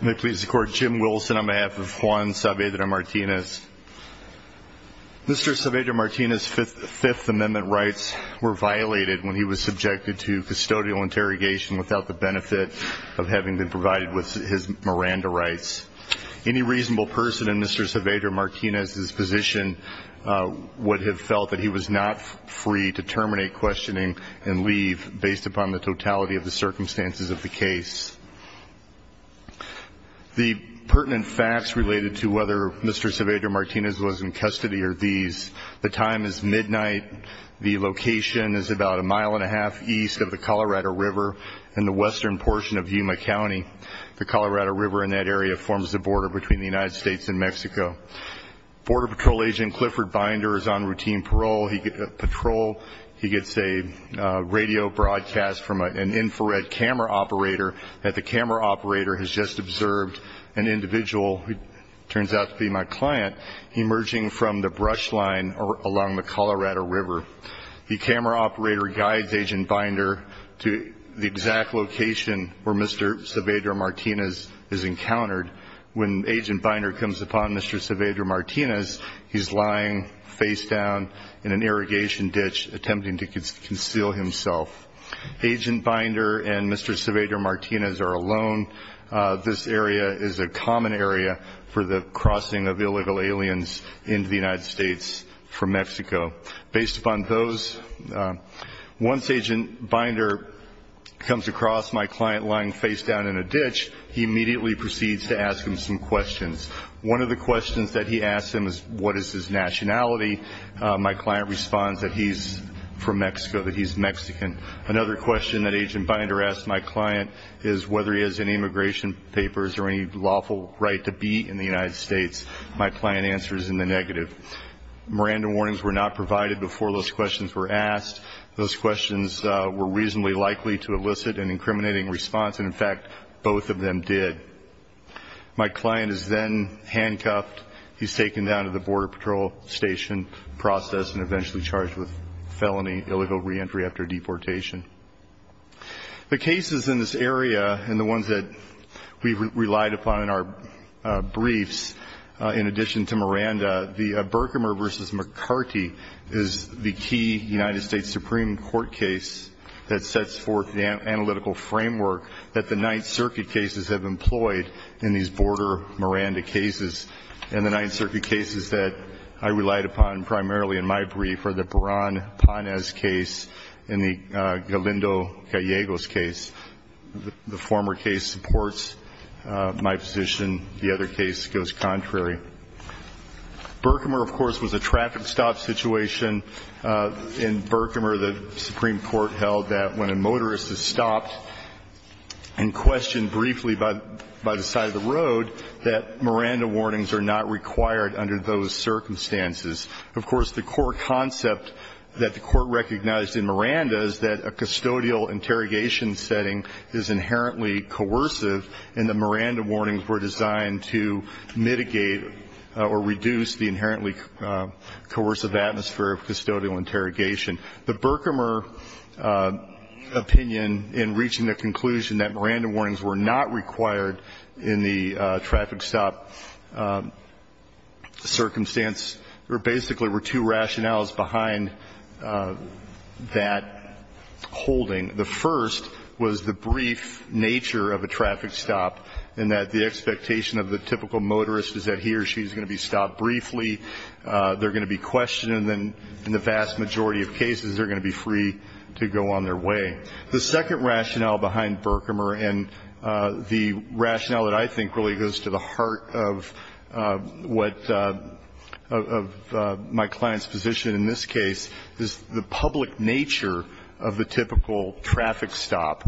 May it please the Court, Jim Wilson on behalf of Juan Saavedra-Martinez. Mr. Saavedra-Martinez's Fifth Amendment rights were violated when he was subjected to custodial interrogation without the benefit of having been provided with his Miranda rights. Any reasonable person in Mr. Saavedra-Martinez's position would have felt that he was not free to terminate questioning and leave based upon the totality of the circumstances of the case. The pertinent facts related to whether Mr. Saavedra-Martinez was in custody are these. The time is midnight. The location is about a mile and a half east of the Colorado River in the western portion of Yuma County. The Colorado River in that area forms the border between the United States and Mexico. Border Patrol Agent Clifford Binder is on routine patrol. He gets a radio broadcast from an infrared camera operator that the camera operator has just observed an individual who turns out to be my client emerging from the brush line along the Colorado River. The camera operator guides Agent Binder to the exact location where Mr. Saavedra-Martinez is encountered. When Agent Binder comes upon Mr. Saavedra-Martinez, he's lying face down in an irrigation ditch attempting to conceal himself. Agent Binder and Mr. Saavedra-Martinez are alone. This area is a common area for the crossing of illegal aliens into the United States from Mexico. Based upon those, once Agent Binder comes across my client lying face down in a ditch, he immediately proceeds to ask him some questions. One of the questions that he asks him is what is his nationality. My client responds that he's from Mexico, that he's Mexican. Another question that Agent Binder asks my client is whether he has any immigration papers or any lawful right to be in the United States. My client answers in the negative. Miranda warnings were not provided before those questions were asked. Those questions were reasonably likely to elicit an incriminating response, and, in fact, both of them did. My client is then handcuffed. He's taken down to the Border Patrol station, processed, and eventually charged with felony illegal reentry after deportation. The cases in this area and the ones that we've relied upon in our briefs, in addition to Miranda, the Berkmer v. McCarty is the key United States Supreme Court case that sets forth the analytical framework that the Ninth Circuit cases have employed in these border Miranda cases. And the Ninth Circuit cases that I relied upon primarily in my brief are the Peron-Panez case and the Galindo-Callegos case. The former case supports my position. The other case goes contrary. Berkmer, of course, was a traffic stop situation. In Berkmer, the Supreme Court held that when a motorist is stopped and questioned briefly by the side of the road, that Miranda warnings are not required under those circumstances. Of course, the core concept that the Court recognized in Miranda is that a custodial interrogation setting is inherently coercive, and the Miranda warnings were designed to mitigate or reduce the inherently coercive atmosphere of custodial interrogation. The Berkmer opinion in reaching the conclusion that Miranda warnings were not required in the traffic stop circumstance, there basically were two rationales behind that holding. The first was the brief nature of a traffic stop, in that the expectation of the typical motorist is that he or she is going to be stopped briefly, they're going to be questioned, and then in the vast majority of cases they're going to be free to go on their way. The second rationale behind Berkmer, and the rationale that I think really goes to the heart of my client's position in this case, is the public nature of the typical traffic stop.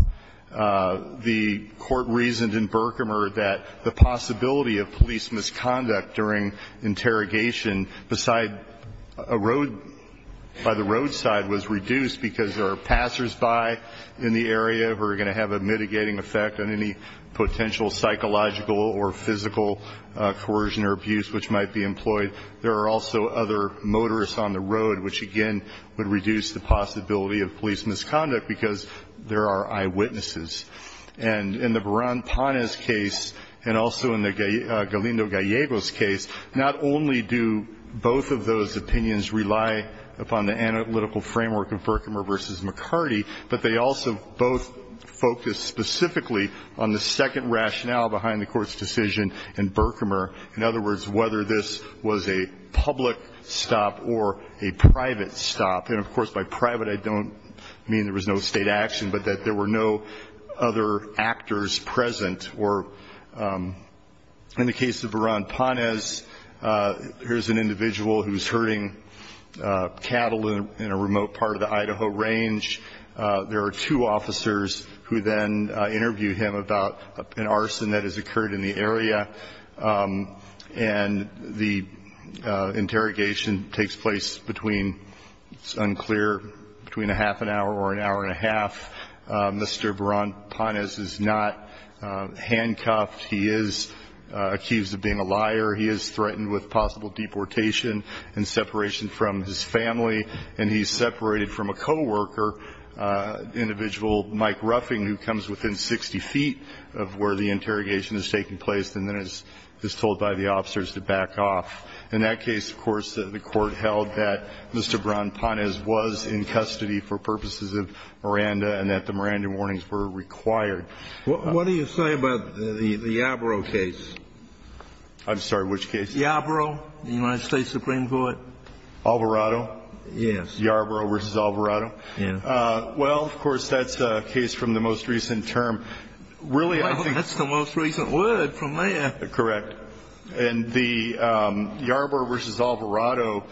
The Court reasoned in Berkmer that the possibility of police misconduct during interrogation beside a road, by the roadside, was reduced because there are passersby in the area who are going to have a mitigating effect on any potential psychological or physical coercion or abuse which might be employed. There are also other motorists on the road, which again would reduce the possibility of police misconduct because there are eyewitnesses. And in the Baran-Panes case and also in the Galindo-Gallegos case, not only do both of those opinions rely upon the analytical framework of Berkmer v. McCarty, but they also both focus specifically on the second rationale behind the Court's decision in Berkmer. In other words, whether this was a public stop or a private stop, and of course by private I don't mean there was no state action, but that there were no other actors present. Or in the case of Baran-Panes, here's an individual who's herding cattle in a remote part of the Idaho Range. There are two officers who then interview him about an arson that has occurred in the area. And the interrogation takes place between, it's unclear, between a half an hour or an hour and a half. Mr. Baran-Panes is not handcuffed. He is accused of being a liar. He is threatened with possible deportation and separation from his family. And he's separated from a co-worker, individual Mike Ruffing, who comes within 60 feet of where the interrogation is taking place and then is told by the officers to back off. In that case, of course, the Court held that Mr. Baran-Panes was in custody for purposes of Miranda and that the Miranda warnings were required. What do you say about the Yarborough case? I'm sorry, which case? Yarborough, the United States Supreme Court. Alvarado? Yes. Yarborough v. Alvarado? Yes. Well, of course, that's a case from the most recent term. Really, I think that's the most recent word from there. Correct. And the Yarborough v. Alvarado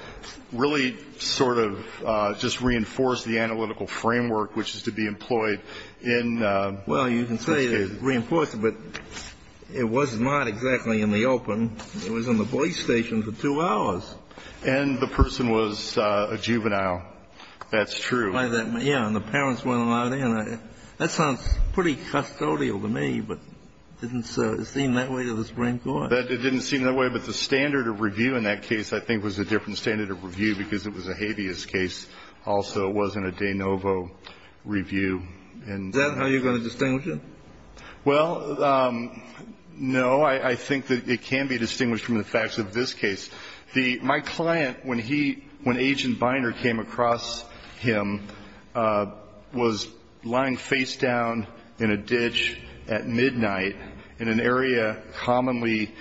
really sort of just reinforced the analytical framework, which is to be employed in this case. Well, you can say it reinforced it, but it was not exactly in the open. It was in the police station for two hours. And the person was a juvenile. That's true. Yeah, and the parents weren't allowed in. That sounds pretty custodial to me, but it didn't seem that way to the Supreme Court. It didn't seem that way. But the standard of review in that case, I think, was a different standard of review because it was a habeas case. Also, it wasn't a de novo review. Is that how you're going to distinguish it? Well, no. I think that it can be distinguished from the facts of this case. My client, when Agent Binder came across him, was lying face down in a ditch at midnight in an area commonly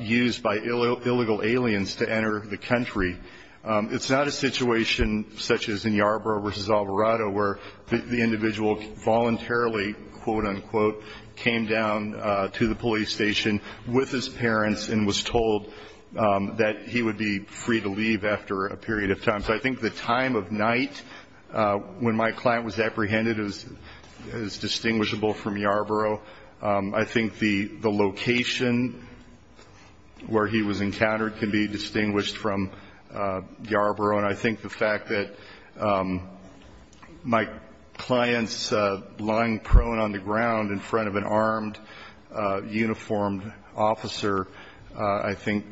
used by illegal aliens to enter the country. It's not a situation such as in Yarborough v. Alvarado where the individual voluntarily, quote, unquote, came down to the police station with his parents and was told that he would be free to leave after a period of time. So I think the time of night when my client was apprehended is distinguishable from Yarborough. I think the location where he was encountered can be distinguished from Yarborough. And I think the fact that my client's lying prone on the ground in front of an armed, uniformed officer, I think,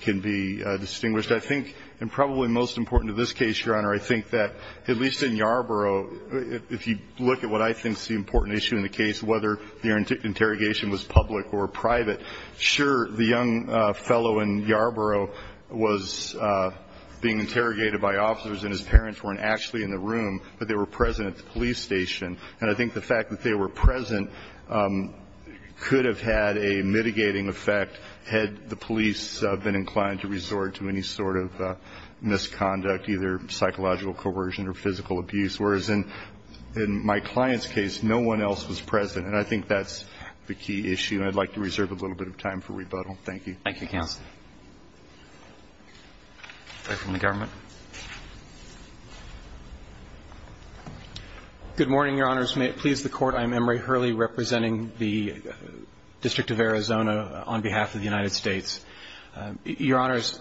can be distinguished. I think, and probably most important to this case, Your Honor, I think that, at least in Yarborough, if you look at what I think is the important issue in the case, whether the interrogation was public or private, sure, the young fellow in Yarborough was being interrogated by officers and his parents weren't actually in the room, but they were present at the police station. And I think the fact that they were present could have had a mitigating effect had the police been inclined to resort to any sort of misconduct, either psychological coercion or physical abuse, whereas in my client's case, no one else was present. And I think that's the key issue. And I'd like to reserve a little bit of time for rebuttal. Thank you. Roberts. Thank you, counsel. Fair from the government. Good morning, Your Honors. May it please the Court. I'm Emory Hurley representing the District of Arizona on behalf of the United States. Your Honors,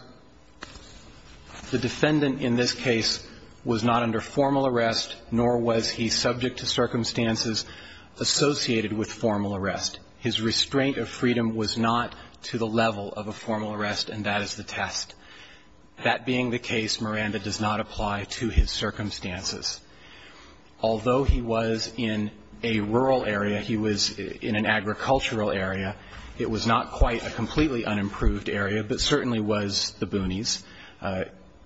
the defendant in this case was not under formal arrest, nor was he subject to circumstances associated with formal arrest. His restraint of freedom was not to the level of a formal arrest, and that is the test. That being the case, Miranda does not apply to his circumstances. Although he was in a rural area, he was in an agricultural area. It was not quite a completely unimproved area, but certainly was the boonies.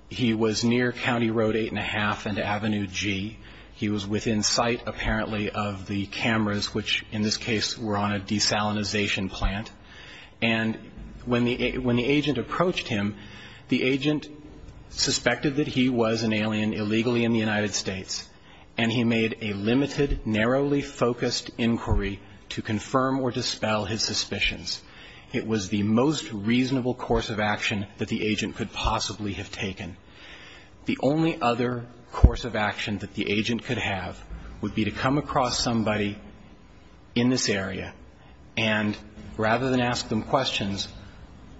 He was near County Road 8 1⁄2 and Avenue G. He was within sight, apparently, of the cameras, which in this case were on a desalinization plant. And when the agent approached him, the agent suspected that he was an alien illegally in the United States, and he made a limited, narrowly focused inquiry to confirm or dispel his suspicions. It was the most reasonable course of action that the agent could possibly have taken. The only other course of action that the agent could have would be to come across somebody in this area, and rather than ask them questions,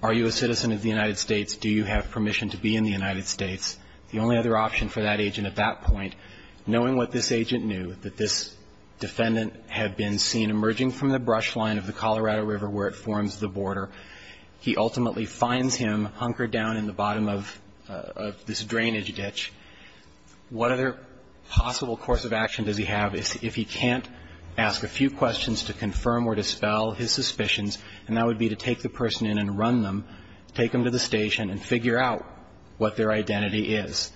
are you a citizen of the United States? Do you have permission to be in the United States? The only other option for that agent at that point, knowing what this agent knew, that this defendant had been seen emerging from the brush line of the Colorado River where it forms the border, he ultimately finds him hunkered down in the bottom of this drainage ditch, what other possible course of action does he have if he can't ask a few questions to confirm or dispel his suspicions, and that would be to take the person in and run them, take them to the station and figure out what their identity is.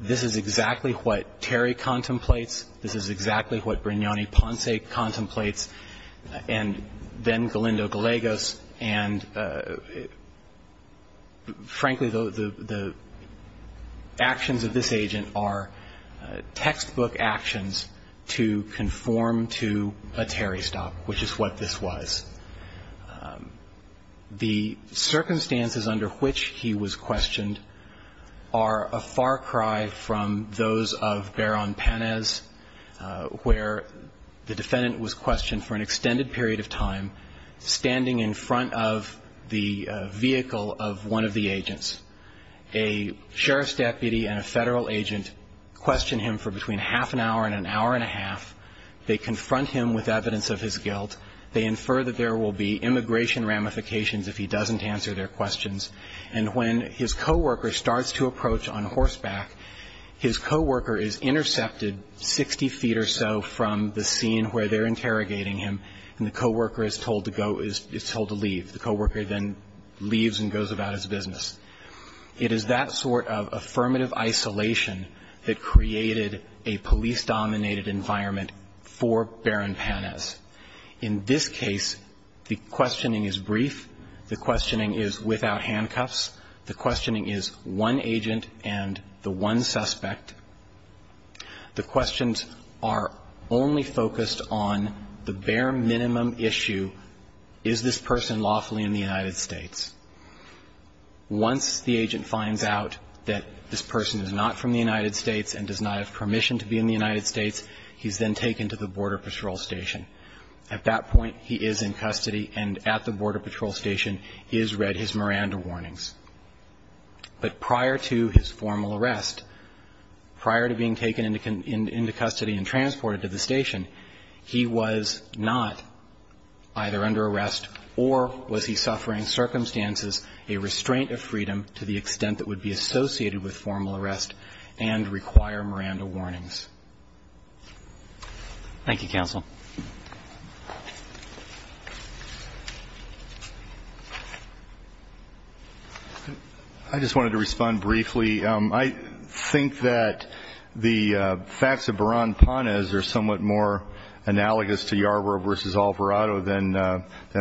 This is exactly what Terry contemplates. This is exactly what Brignani-Ponce contemplates, and then Galindo-Galegos. And frankly, the actions of this agent are textbook actions to conform to a Terry style. The circumstances under which he was questioned are a far cry from those of Baron-Panez, where the defendant was questioned for an extended period of time, standing in front of the vehicle of one of the agents. A sheriff's deputy and a federal agent question him for between half an hour and an hour and a half. They confront him with evidence of his guilt. They infer that there will be immigration ramifications if he doesn't answer their questions. And when his co-worker starts to approach on horseback, his co-worker is intercepted 60 feet or so from the scene where they're interrogating him, and the co-worker is told to go, is told to leave. The co-worker then leaves and goes about his business. It is that sort of affirmative isolation that created a police-dominated environment for Baron-Panez. In this case, the questioning is brief, the questioning is without handcuffs, the questioning is one agent and the one suspect. The questions are only focused on the bare minimum issue, is this person lawfully in the United States? Once the agent finds out that this person is not from the United States and does not have permission to be in the United States, he's then taken to the Border Patrol Station. At that point, he is in custody, and at the Border Patrol Station, he has read his Miranda warnings. But prior to his formal arrest, prior to being taken into custody and transported to the station, he was not either under arrest or was he suffering circumstances a restraint of freedom to the extent that would be associated with formal arrest and require Miranda warnings. Thank you, counsel. I just wanted to respond briefly. I think that the facts of Baron-Panez are somewhat more analogous to Yarbrough v. Alvarado than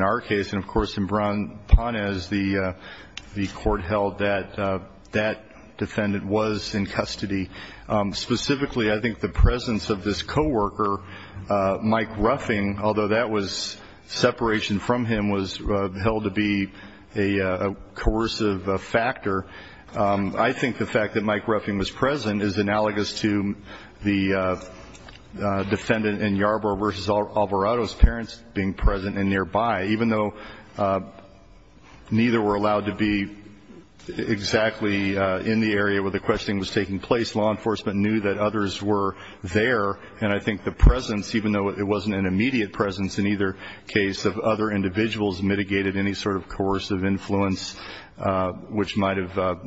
our case, and, of course, in Baron-Panez, the court held that that defendant was in custody. Specifically, I think the presence of this coworker, Mike Ruffing, although that was separation from him, was held to be a coercive factor. I think the fact that Mike Ruffing was present is analogous to the defendant in Yarbrough v. Alvarado's parents being present and nearby. Even though neither were allowed to be exactly in the area where the questioning was taking place, law enforcement knew that others were there. And I think the presence, even though it wasn't an immediate presence in either case, the presence of other individuals mitigated any sort of coercive influence which might have,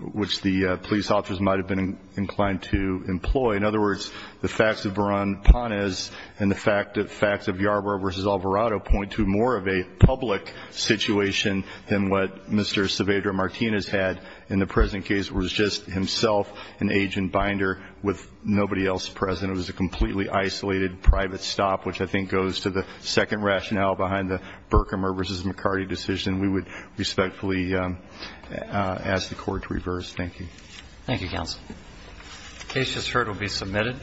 which the police officers might have been inclined to employ. In other words, the facts of Baron-Panez and the facts of Yarbrough v. Alvarado point to more of a public situation than what Mr. Saavedra-Martinez had in the present case was just himself, an agent, Binder, with nobody else present. And I think the fact that it was a completely isolated private stop, which I think goes to the second rationale behind the Berkemer v. McCarty decision, we would respectfully ask the Court to reverse. Thank you. Thank you, counsel. The case just heard will be submitted.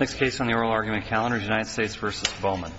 Next case on the oral argument calendar is United States v. Bowman.